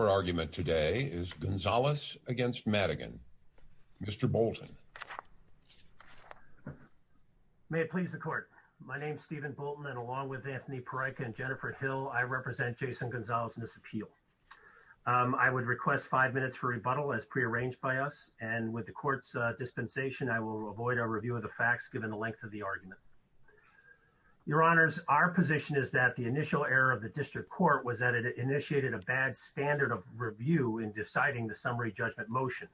Your argument today is Gonzales v. Madigan. Mr. Bolton. May it please the Court. My name is Stephen Bolton, and along with Anthony Pereyka and Jennifer Hill, I represent Jason Gonzales in this appeal. I would request five minutes for rebuttal, as prearranged by us, and with the Court's dispensation, I will avoid a review of the facts given the length of the argument. Your Honors, our position is that the initial error of the District Court was that it initiated a bad standard of review in deciding the summary judgment motion.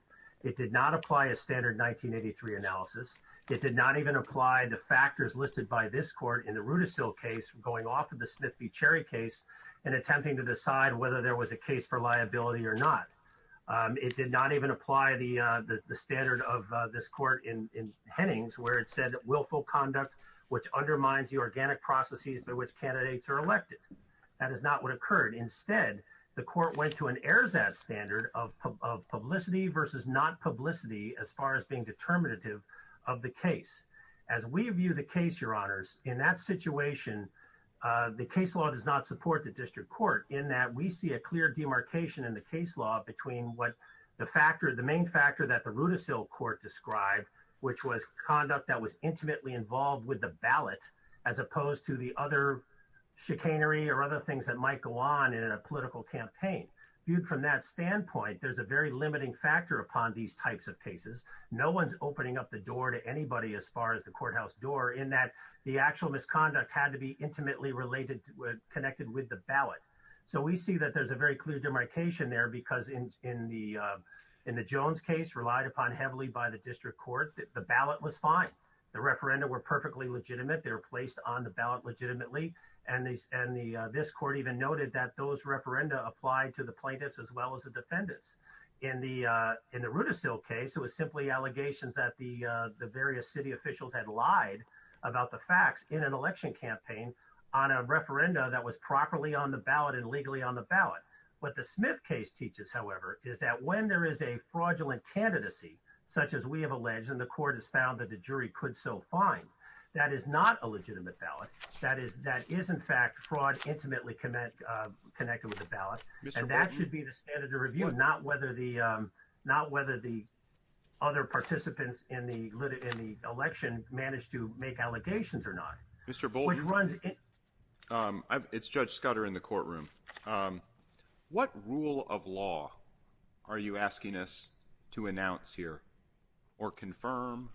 It did not apply a standard 1983 analysis. It did not even apply the factors listed by this Court in the Rudisill case going off of the Smith v. Cherry case in attempting to decide whether there was a case for liability or not. It did not even apply the standard of this Court in Hennings, where it said willful conduct, which undermines the organic processes by which candidates are elected. That is not what occurred. Instead, the Court went to an Erzat standard of publicity versus not publicity as far as being determinative of the case. As we view the case, Your Honors, in that situation, the case law does not support the District Court in that we see a clear demarcation in the case law between what the factor, the main factor that the Rudisill Court described, which was conduct that was chicanery or other things that might go on in a political campaign. Viewed from that standpoint, there's a very limiting factor upon these types of cases. No one's opening up the door to anybody as far as the courthouse door in that the actual misconduct had to be intimately related, connected with the ballot. So we see that there's a very clear demarcation there because in the Jones case, relied upon heavily by the District Court, the ballot was fine. The referenda were perfectly legitimate. They were placed on the ballot. And this Court even noted that those referenda applied to the plaintiffs as well as the defendants. In the Rudisill case, it was simply allegations that the various city officials had lied about the facts in an election campaign on a referenda that was properly on the ballot and legally on the ballot. What the Smith case teaches, however, is that when there is a fraudulent candidacy, such as we have alleged and the Court has found that the jury could so find, that is not a legitimate ballot. That is, that is, in fact, fraud intimately connect connected with the ballot. And that should be the standard of review, not whether the not whether the other participants in the in the election managed to make allegations or not. Mr. Bolton runs. It's Judge Scudder in the courtroom. What rule of law are you asking us to announce here or confirm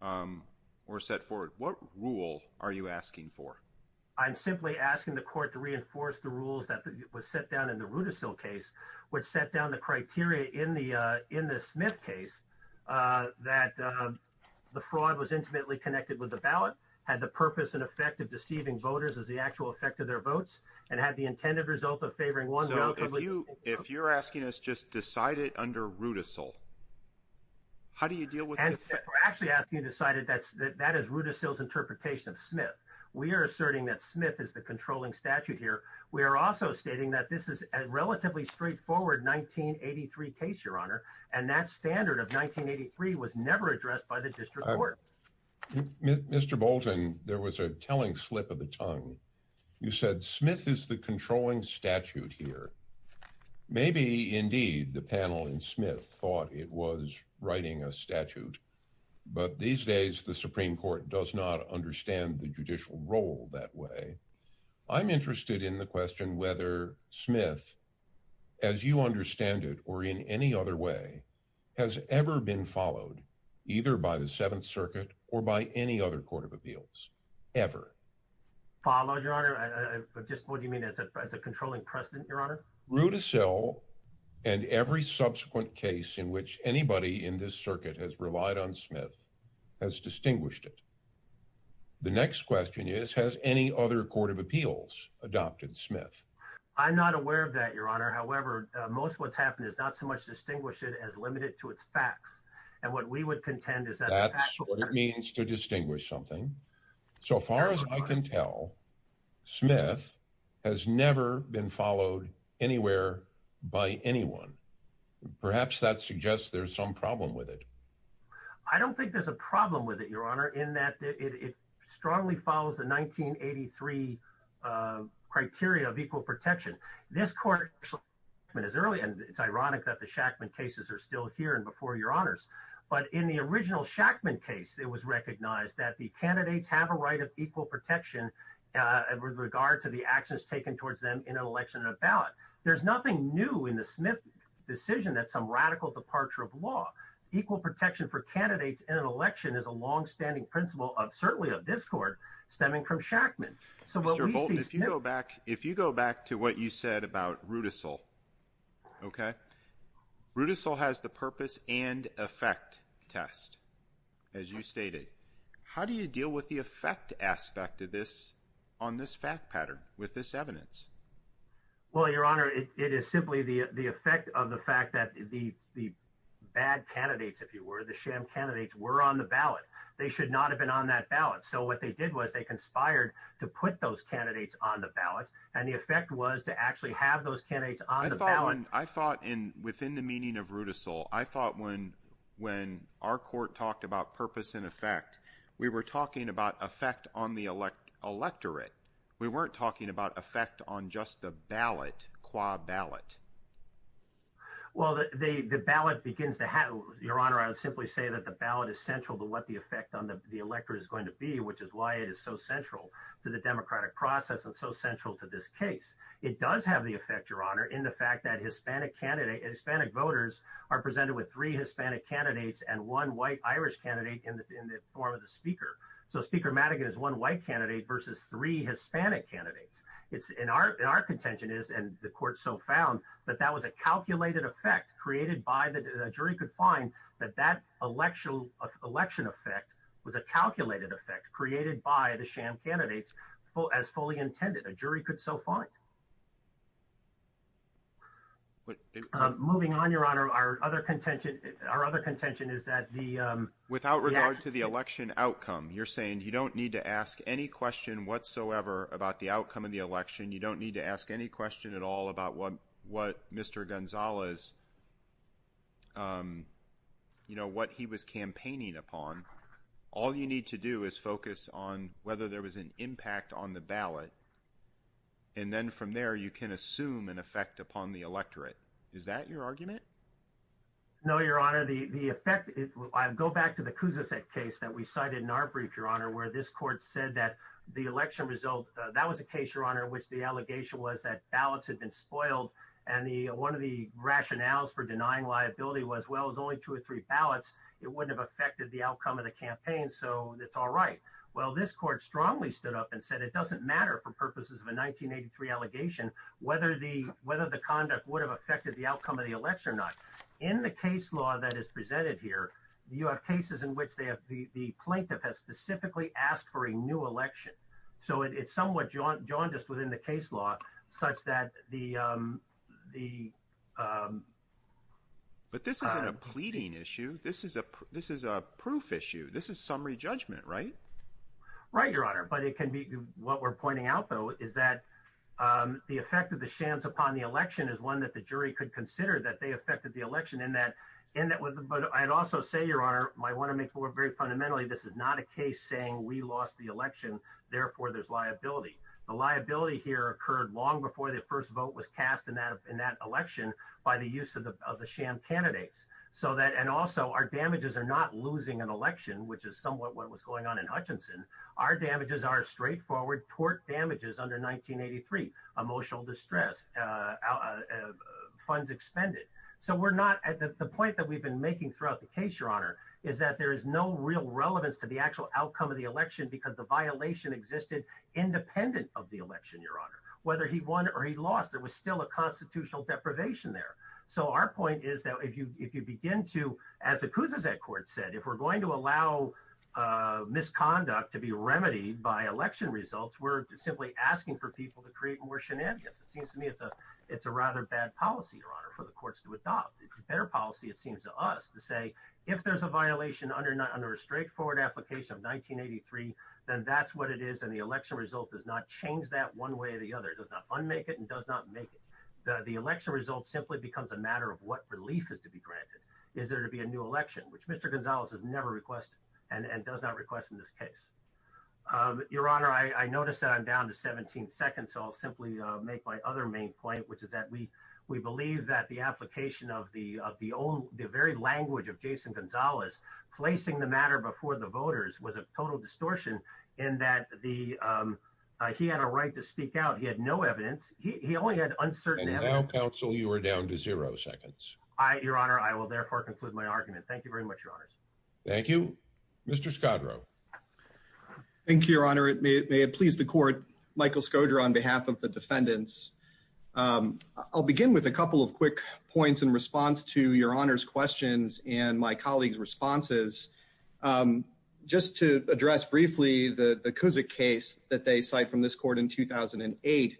or set forward? What rule are you asking for? I'm simply asking the court to reinforce the rules that was set down in the Rudisill case, which set down the criteria in the in the Smith case that the fraud was intimately connected with the ballot, had the purpose and effect of deceiving voters as the actual effect of their votes and had the intended result of favoring one. So if you if you're asking us to just decide it under Rudisill, how do you deal with actually asking you decided that that is Rudisill's interpretation of Smith? We are asserting that Smith is the controlling statute here. We are also stating that this is a relatively straightforward 1983 case, Your Honor, and that standard of 1983 was never addressed by the District Court. Mr. Bolton, there was a telling slip of the tongue. You said Smith is the controlling statute here. Maybe, indeed, the panel in Smith thought it was writing a statute. But these days, the Supreme Court does not understand the judicial role that way. I'm interested in the question whether Smith, as you understand it or in any other way, has ever been followed either by the Seventh Circuit or by any other court of appeals ever followed, Your Honor. I just what do you mean as a controlling precedent, Your Honor? Rudisill and every subsequent case in which anybody in this circuit has relied on Smith has distinguished it. The next question is, has any other court of appeals adopted Smith? I'm not aware of that, Your Honor. However, most what's happened is not so much distinguish it as limited to its facts. And what we would contend is that that's what it means to distinguish something. So far as I can tell, Smith has never been followed anywhere by anyone. Perhaps that suggests there's some problem with it. I don't think there's a problem with it, Your Honor, in that it strongly follows the 1983 criteria of equal protection. This court is early, and it's ironic that the Shackman cases are still here and before your honors. But in the original Shackman case, it was recognized that the candidates have a right of equal protection with regard to the actions taken towards them in an election of ballot. There's nothing new in the Smith decision that some radical departure of law, equal protection for candidates in an election is a longstanding principle of certainly of this court stemming from Shackman. So if you go back, if you go back to what you said about Rudisill, okay, Rudisill has the purpose and effect test. As you stated, how do you deal with the effect aspect of this on this fact pattern with this evidence? Well, Your Honor, it is simply the effect of the fact that the the bad candidates, if you were the sham candidates were on the ballot, they should not have been on that ballot. So what they did was they conspired to put those candidates on the ballot. And the effect was to actually have those candidates I thought in within the meaning of Rudisill, I thought when when our court talked about purpose and effect, we were talking about effect on the elect electorate. We weren't talking about effect on just the ballot qua ballot. Well, the ballot begins to happen, Your Honor, I would simply say that the ballot is central to what the effect on the electorate is going to be, which is why it is so central to the democratic process and so central to this case. It does have the effect, Your Honor, on the fact that Hispanic candidates, Hispanic voters are presented with three Hispanic candidates and one white Irish candidate in the form of the speaker. So Speaker Madigan is one white candidate versus three Hispanic candidates. It's in our our contention is and the court so found that that was a calculated effect created by the jury could find that that election of election effect was a calculated effect created by the sham candidates as fully intended. A jury could so fine. But moving on, Your Honor, our other contention, our other contention is that the without regard to the election outcome, you're saying you don't need to ask any question whatsoever about the outcome of the election. You don't need to ask any question at all about what what Mr. Gonzales. You know what he was campaigning upon. All you need to do is focus on whether there was an impact on the ballot. And then from there, you can assume an effect upon the electorate. Is that your argument? No, Your Honor, the effect, I go back to the Kuznicek case that we cited in our brief, Your Honor, where this court said that the election result, that was a case, Your Honor, which the allegation was that ballots had been spoiled. And the one of the rationales for denying liability was, well, it's only two or three ballots. It wouldn't have affected the outcome of the campaign. So it's all right. Well, this court strongly stood up and said it doesn't matter for purposes of a 1983 allegation whether the whether the conduct would have affected the outcome of the election or not. In the case law that is presented here, you have cases in which the plaintiff has specifically asked for a new election. So it's somewhat jaundiced within the case law such that the the. But this isn't a pleading issue. This is a this is a proof issue. This is summary judgment, right? Right, Your Honor. But it can be what we're pointing out, though, is that the effect of the chance upon the election is one that the jury could consider that they affected the election in that in that. But I'd also say, Your Honor, I want to make more very fundamentally, this is not a case saying we lost the election. Therefore, there's liability. The liability here occurred long before the first vote was cast in in that election by the use of the of the sham candidates so that and also our damages are not losing an election, which is somewhat what was going on in Hutchinson. Our damages are straightforward tort damages under 1983, emotional distress, funds expended. So we're not at the point that we've been making throughout the case, Your Honor, is that there is no real relevance to the actual outcome of the election because the violation existed independent of the election. Your Honor, whether he won or he constitutional deprivation there. So our point is that if you if you begin to, as the kuz as that court said, if we're going to allow misconduct to be remedied by election results, we're simply asking for people to create more shenanigans. It seems to me it's a it's a rather bad policy, Your Honor, for the courts to adopt. It's a better policy, it seems to us to say if there's a violation under under a straightforward application of 1983, then that's what it is. And the election result does not change that one way or the other does not make it and does not make it. The election result simply becomes a matter of what relief is to be granted. Is there to be a new election, which Mr Gonzalez has never requested and and does not request in this case. Um, Your Honor, I noticed that I'm down to 17 seconds, so I'll simply make my other main point, which is that we we believe that the application of the of the old very language of Jason Gonzalez placing the matter before the voters was a total distortion in that the, um, he had a right to speak out. He had no evidence. He only had uncertain. And now, counsel, you were down to zero seconds. I, Your Honor, I will therefore conclude my argument. Thank you very much, Your Honors. Thank you, Mr Scudro. Thank you, Your Honor. It may it may have pleased the court Michael Scodra on behalf of the defendants. Um, I'll begin with a couple of quick points in response to your honors questions and my colleagues responses. Um, just to address briefly, the because a case that they cite from this court in 2000 and eight.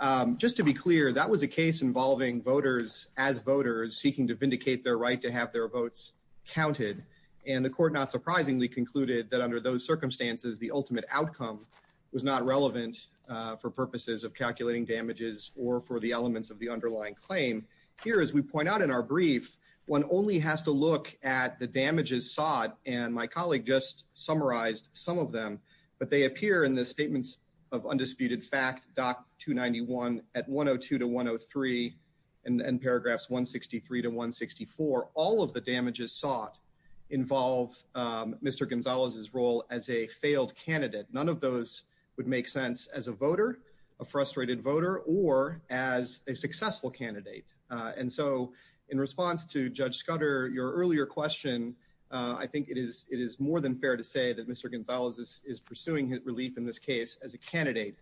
Um, just to be clear, that was a case involving voters as voters seeking to vindicate their right to have their votes counted, and the court not surprisingly concluded that under those circumstances, the ultimate outcome was not relevant for purposes of calculating damages or for the elements of the underlying claim here. As we point out in our brief, one only has to look at the damages sought and my colleague just summarized some of them, but they appear in the statements of undisputed fact Doc 2 91 at 102 to 103 and paragraphs 1 63 to 1 64. All of the damages sought involve Mr Gonzalez's role as a failed candidate. None of those would make sense as a voter, a frustrated voter or as a successful candidate. And so in response to Judge Scudder, your earlier question, I think it is. It is more than fair to say that Mr Gonzalez is pursuing his relief in this case as a candidate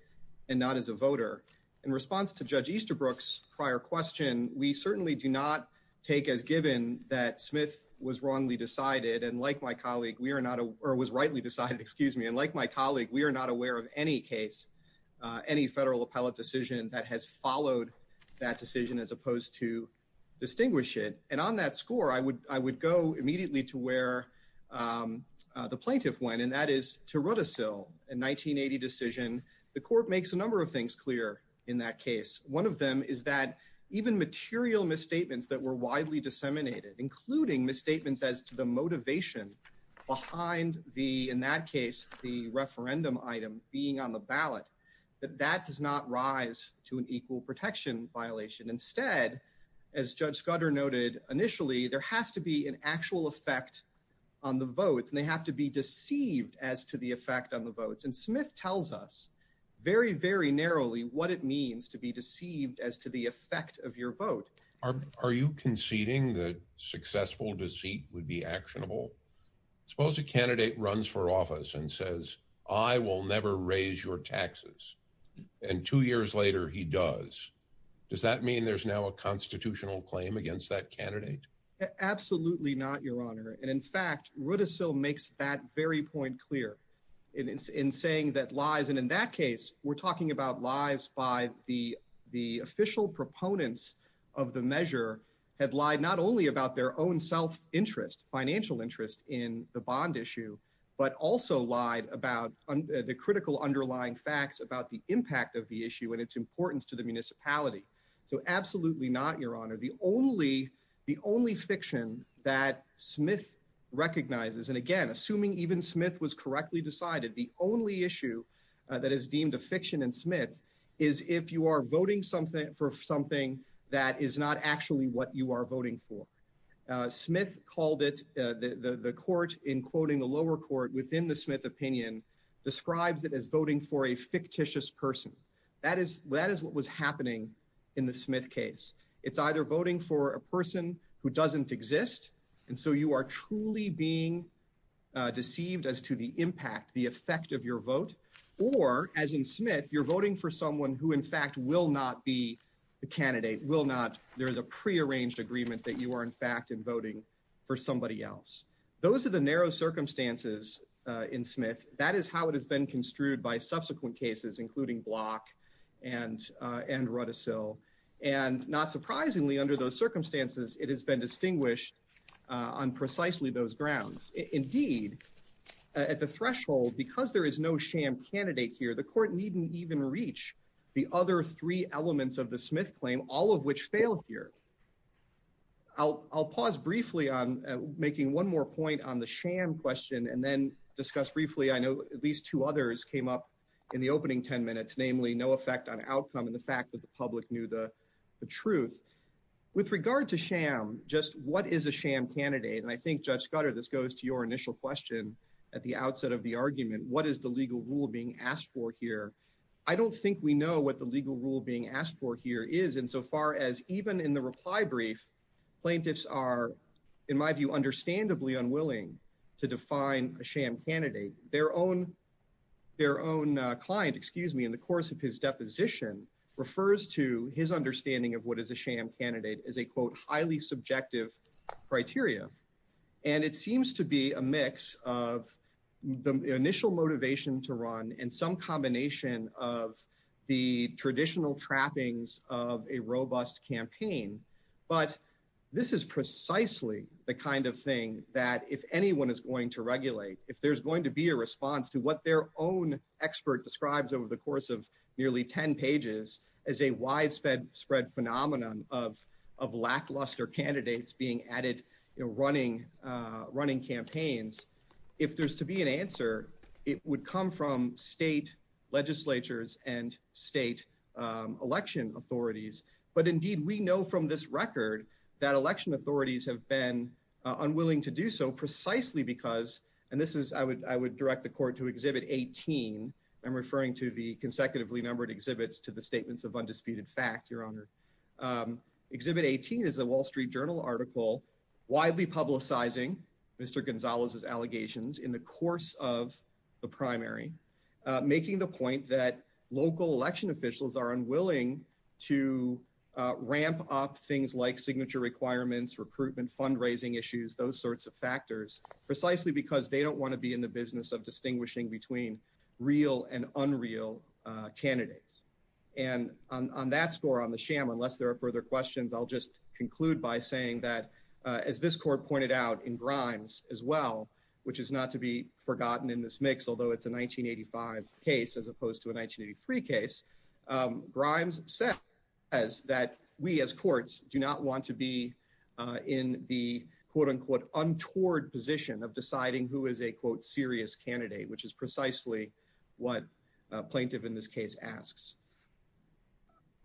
and not as a voter. In response to Judge Easterbrook's prior question, we certainly do not take as given that Smith was wrongly decided and like my colleague, we're not or was rightly decided. Excuse me. And like my colleague, we're not aware of any case, uh, any federal appellate decision that has followed that decision as opposed to distinguish it. And on that score, I would, I would go immediately to where, um, uh, the plaintiff went and that is to wrote a sill in 1980 decision. The court makes a number of things clear in that case. One of them is that even material misstatements that were widely disseminated, including misstatements as to the motivation behind the, in that case, the referendum item being on the ballot, that that does not rise to an equal protection violation. Instead, as Judge Scudder noted initially, there has to be an actual effect on the votes and they have to be deceived as to the effect on the votes. And Smith tells us very, very narrowly what it means to be deceived as to the effect of your vote. Are you conceding that successful deceit would be actionable? Suppose a candidate runs for office and says, I will never raise your taxes. And two years later he does. Does that mean there's now a constitutional claim against that candidate? Absolutely not your honor. And in fact, what is so makes that very point clear in saying that lies. And in that case, we're talking about lies by the, the official proponents of the measure had lied not only about their own self interest, financial interest in the bond issue, but also lied about the critical underlying facts about the impact of the issue and its importance to the municipality. So absolutely not your honor. The only, the only fiction that Smith recognizes, and again, assuming even Smith was correctly decided, the only issue that is deemed a fiction and Smith is if you are voting something for something that is not actually what you are voting for. Uh, Smith called it, uh, the, the, the court in quoting the lower court within the Smith opinion describes it as voting for a fictitious person. That is, that is what was happening in the Smith case. It's either voting for a person who doesn't exist. And so you are truly being deceived as to the impact, the effect of your vote, or as in Smith, you're voting for someone who in fact will not be the candidate will not, there is a prearranged agreement that you are in fact in voting for somebody else. Those are the narrow circumstances, uh, in Smith. That is how it has been construed by subsequent cases, including block and, uh, and run a sill. And not surprisingly under those circumstances, it has been distinguished, uh, on precisely those grounds. Indeed, at the threshold, because there is no sham candidate here, the court needn't even reach the other three elements of the Smith claim, all of which failed here. I'll, I'll pause briefly on making one more point on the sham question and then discuss briefly. I know at least two others came up in the opening 10 minutes, namely no effect on outcome. And the fact that the public knew the truth with regard to sham, just what is a sham candidate? And I think judge gutter, this goes to your initial question at the outset of the argument, what is the legal rule being asked for here? I don't think we know what the legal rule being asked for here is. And so far as even in the reply brief, plaintiffs are in my view, understandably unwilling to define a sham candidate, their own, their own client, excuse me, in the course of his deposition refers to his understanding of what is a sham candidate as a quote, highly subjective criteria. And it seems to be a mix of the initial motivation to run and some combination of the traditional trappings of a robust campaign. But this is precisely the kind of thing that if anyone is going to regulate, if there's going to be a response to what their own expert describes over the course of nearly 10 pages as a widespread spread phenomenon of of lackluster candidates being added, running, running campaigns. If there's to be an answer, it would come from state legislatures and state election authorities. But indeed we know from this record that election authorities have been unwilling to do so precisely because and this is, I would, I would direct the court to exhibit 18. I'm referring to the consecutively numbered exhibits to the statements of undisputed fact, your honor. Exhibit 18 is a wall street journal article, widely publicizing Mr. Gonzalez's allegations in the course of the primary, making the point that local election officials are unwilling to ramp up things like signature requirements, recruitment, fundraising issues, those sorts of factors precisely because they don't want to be in the business of distinguishing between real and unreal candidates. And on that score on the sham, unless there are further questions, I'll just conclude by saying that as this court pointed out in Grimes as well, which is not to be forgotten in this mix, although it's a 1985 case, as opposed to a 1983 case, Grimes says that we as courts do not want to be in the quote unquote untoward position of deciding who is a quote candidate, which is precisely what a plaintiff in this case asks.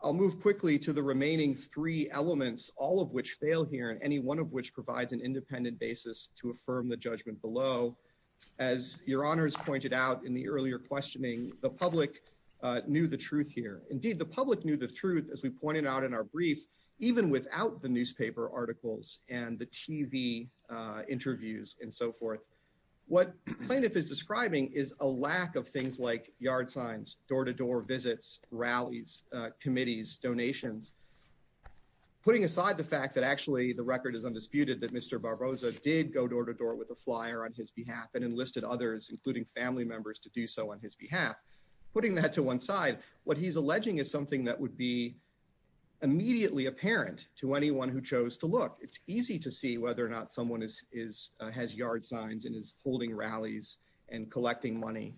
I'll move quickly to the remaining three elements, all of which fail here. And any one of which provides an independent basis to affirm the judgment below, as your honors pointed out in the earlier questioning, the public knew the truth here. Indeed, the public knew the truth, as we pointed out in our brief, even without the public knowing it. What the plaintiff is describing is a lack of things like yard signs, door-to-door visits, rallies, committees, donations, putting aside the fact that actually the record is undisputed that Mr. Barboza did go door-to-door with a flyer on his behalf and enlisted others, including family members, to do so on his behalf. Putting that to one side, what he's alleging is something that would be immediately apparent to anyone who chose to look. It's easy to see whether or not someone has yard signs and is holding rallies and collecting money.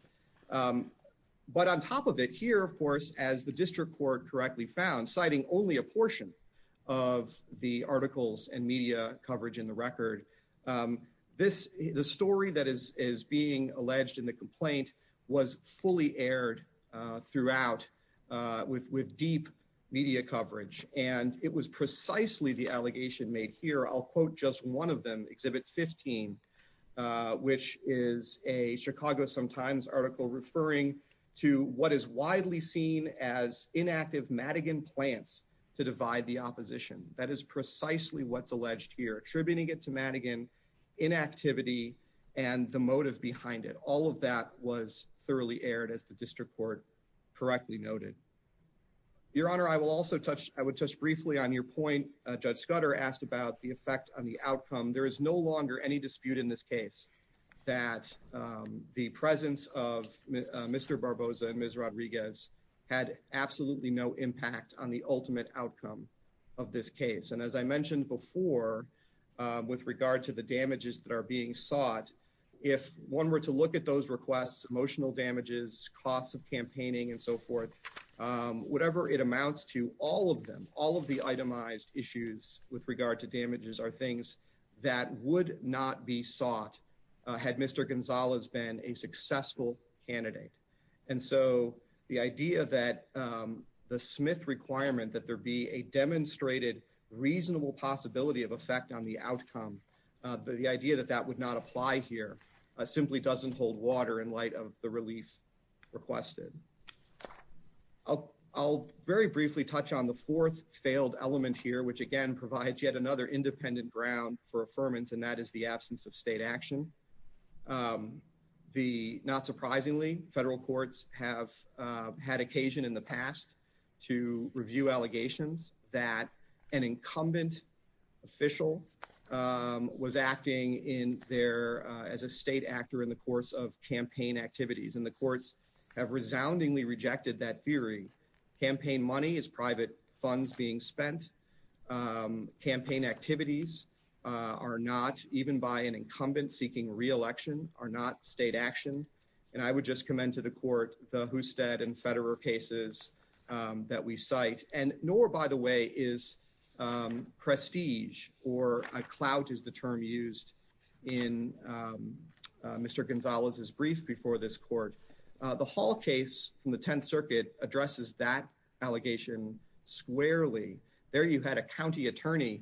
But on top of it, here, of course, as the district court correctly found, citing only a portion of the articles and media coverage in the record, the story that is being alleged in the complaint was fully aired throughout with deep media coverage, and it was precisely the allegation made here. I'll point to a particular article in the Chicago Times, Exhibit 15, which is a Chicago Times article referring to what is widely seen as inactive Madigan plants to divide the opposition. That is precisely what's alleged here, attributing it to Madigan, inactivity, and the motive behind it. All of that was thoroughly aired, as the district court correctly noted. Your Honor, I will also no longer any dispute in this case that the presence of Mr. Barboza and Ms. Rodriguez had absolutely no impact on the ultimate outcome of this case. And as I mentioned before, with regard to the damages that are being sought, if one were to look at those requests, emotional damages, costs of campaigning, and so forth, whatever it amounts to, all of them, with regard to damages, are things that would not be sought had Mr. Gonzalez been a successful candidate. And so the idea that the Smith requirement that there be a demonstrated reasonable possibility of effect on the outcome, the idea that that would not apply here simply doesn't hold water in light of the relief requested. I'll very briefly touch on the fourth failed element here, which again provides yet another independent ground for affirmance, and that is the absence of state action. Not surprisingly, federal courts have had occasion in the past to review allegations that an incumbent official was acting as a state actor in the course of campaign activities, and the courts have resoundingly rejected that theory. Campaign money is private funds being spent. Campaign activities are not, even by an incumbent seeking re-election, are not state action. And I would just commend to the court the Hustedt and Federer cases that we cite. And Knorr, by the way, is prestige, or a clout is the term used in Mr. Gonzalez's brief before this court. The Hall case from the 10th Circuit addresses that allegation squarely. There you had a county attorney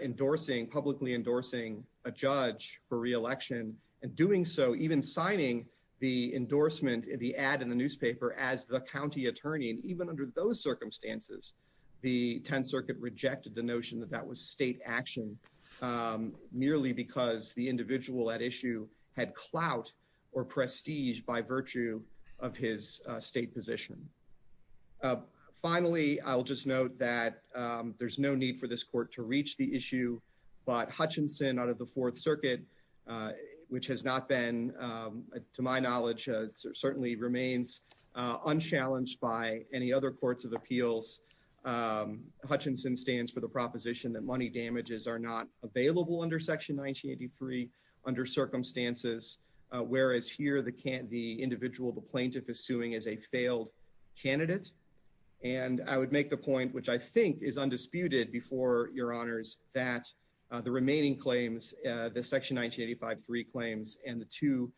endorsing, publicly endorsing, a judge for re-election, and doing so, even signing the endorsement in the ad in the newspaper as the county attorney. And even under those circumstances, the 10th Circuit rejected the notion that that state action merely because the individual at issue had clout or prestige by virtue of his state position. Finally, I'll just note that there's no need for this court to reach the issue, but Hutchinson out of the 4th Circuit, which has not been, to my knowledge, certainly remains unchallenged by any other courts of appeals. Hutchinson stands for the proposition that money damages are not available under Section 1983 under circumstances, whereas here the individual, the plaintiff, is suing as a failed candidate. And I would make the point, which I think is undisputed before your honors, that the remaining claims, the Section 1985-3 claims, and the two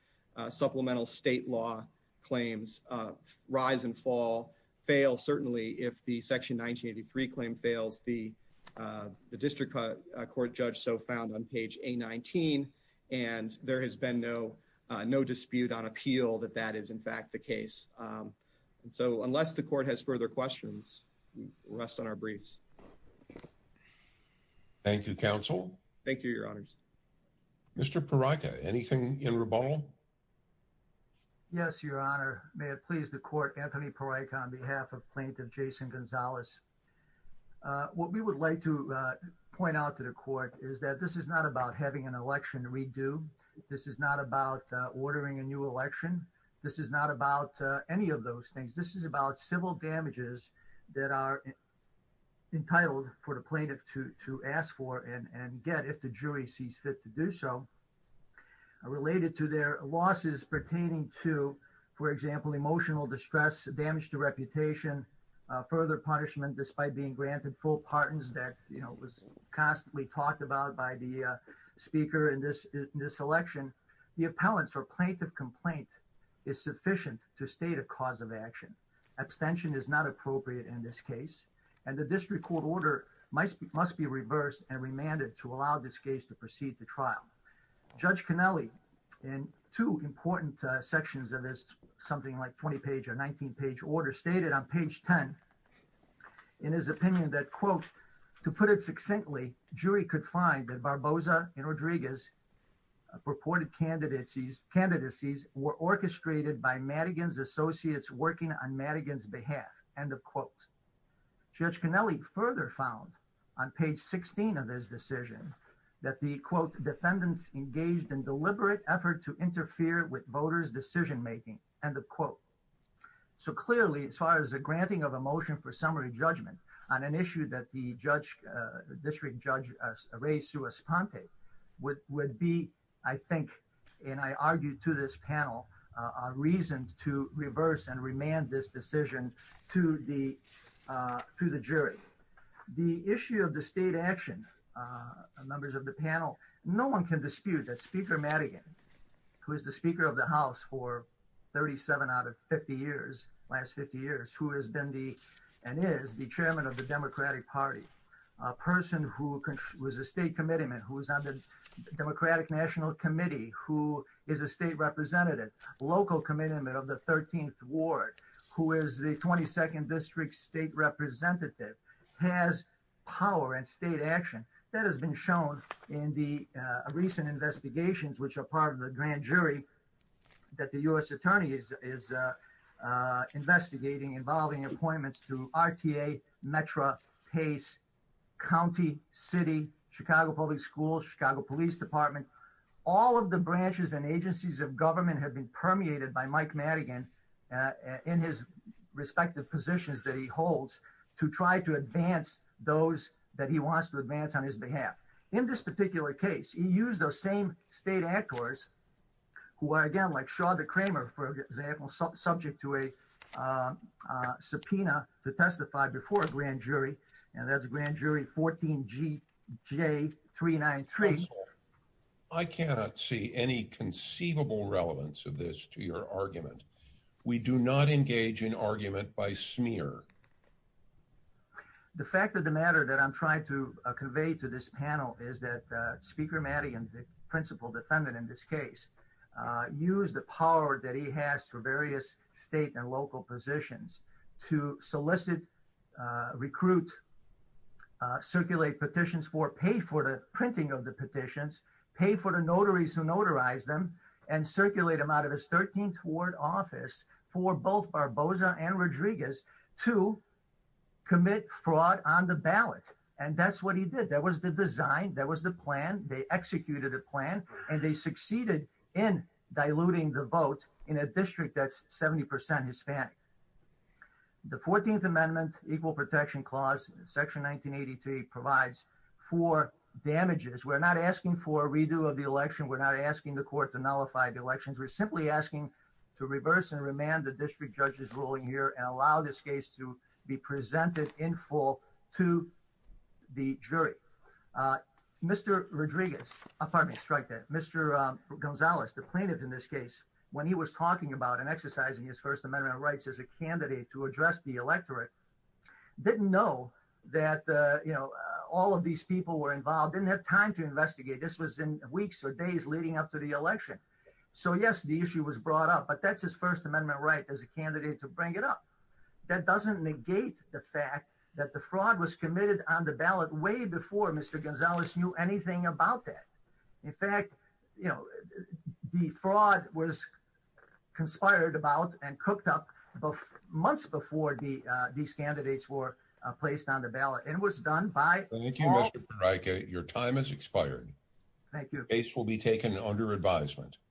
supplemental state law claims, rise and fall, fail certainly if the Section 1983 claim fails, the district court judge so found on page A-19, and there has been no dispute on appeal that that is in fact the case. So unless the court has further questions, we rest on our in reball. Yes, your honor. May it please the court, Anthony Parikh on behalf of plaintiff Jason Gonzalez. What we would like to point out to the court is that this is not about having an election redo. This is not about ordering a new election. This is not about any of those things. This is about civil damages that are entitled for the plaintiff to ask for and get if the jury sees it to do so. Related to their losses pertaining to, for example, emotional distress, damage to reputation, further punishment despite being granted full pardons that was constantly talked about by the speaker in this election, the appellants or plaintiff complaint is sufficient to state a cause of action. Abstention is not appropriate in this case, and the district court must be reversed and remanded to allow this case to proceed to trial. Judge Canelli in two important sections of this something like 20 page or 19 page order stated on page 10 in his opinion that quote, to put it succinctly, jury could find that Barboza and Rodriguez purported candidacies were orchestrated by Madigan's associates working on Madigan's behalf. End of quote. Judge Canelli further found on page 16 of his decision that the quote defendants engaged in deliberate effort to interfere with voters decision making. End of quote. So clearly as far as the granting of a motion for summary judgment on an issue that the judge, district judge Ray Suespante would be, I think, and I argue to this panel, a reason to reverse and remand this to the jury. The issue of the state action, members of the panel, no one can dispute that speaker Madigan, who is the speaker of the house for 37 out of 50 years, last 50 years, who has been the, and is the chairman of the democratic party, a person who was a state commitment, who was on the democratic national committee, who is a state representative, local commitment of the ward, who is the 22nd district state representative, has power and state action that has been shown in the recent investigations, which are part of the grand jury that the U.S. attorney is investigating involving appointments to RTA, Metra, Pace, county, city, Chicago public schools, Chicago police department, all of the branches and in his respective positions that he holds to try to advance those that he wants to advance on his behalf. In this particular case, he used those same state actors who are, again, like Shawda Kramer, for example, subject to a subpoena to testify before a grand jury, and that's grand jury 14GJ393. I cannot see any conceivable relevance of this to your argument. We do not engage in argument by smear. The fact of the matter that I'm trying to convey to this panel is that speaker Madigan, the principal defendant in this case, used the power that he various state and local positions to solicit, recruit, circulate petitions for, pay for the printing of the petitions, pay for the notaries who notarized them, and circulate them out of his 13th ward office for both Barboza and Rodriguez to commit fraud on the ballot, and that's what he did. That was the design. That was the plan. They executed a plan, and they succeeded in diluting the vote in a district that's 70% Hispanic. The 14th Amendment Equal Protection Clause, Section 1983, provides for damages. We're not asking for a redo of the election. We're not asking the court to nullify the elections. We're simply asking to reverse and remand the district judge's ruling here and allow this case to be presented in full to the jury. Mr. Rodriguez, Mr. Gonzalez, the plaintiff in this case, when he was talking about and exercising his First Amendment rights as a candidate to address the electorate, didn't know that all of these people were involved, didn't have time to investigate. This was in weeks or days leading up to the election. So yes, the issue was brought up, but that's his First Amendment right as a candidate to bring it up. That doesn't negate the fact that the fraud was committed on the ballot way before Mr. Gonzalez knew anything about that. In fact, you know, the fraud was conspired about and cooked up months before these candidates were placed on the ballot, and it was done by— Thank you, Mr. Pereyka. Your time has expired. Thank you. The case will be taken under advisement.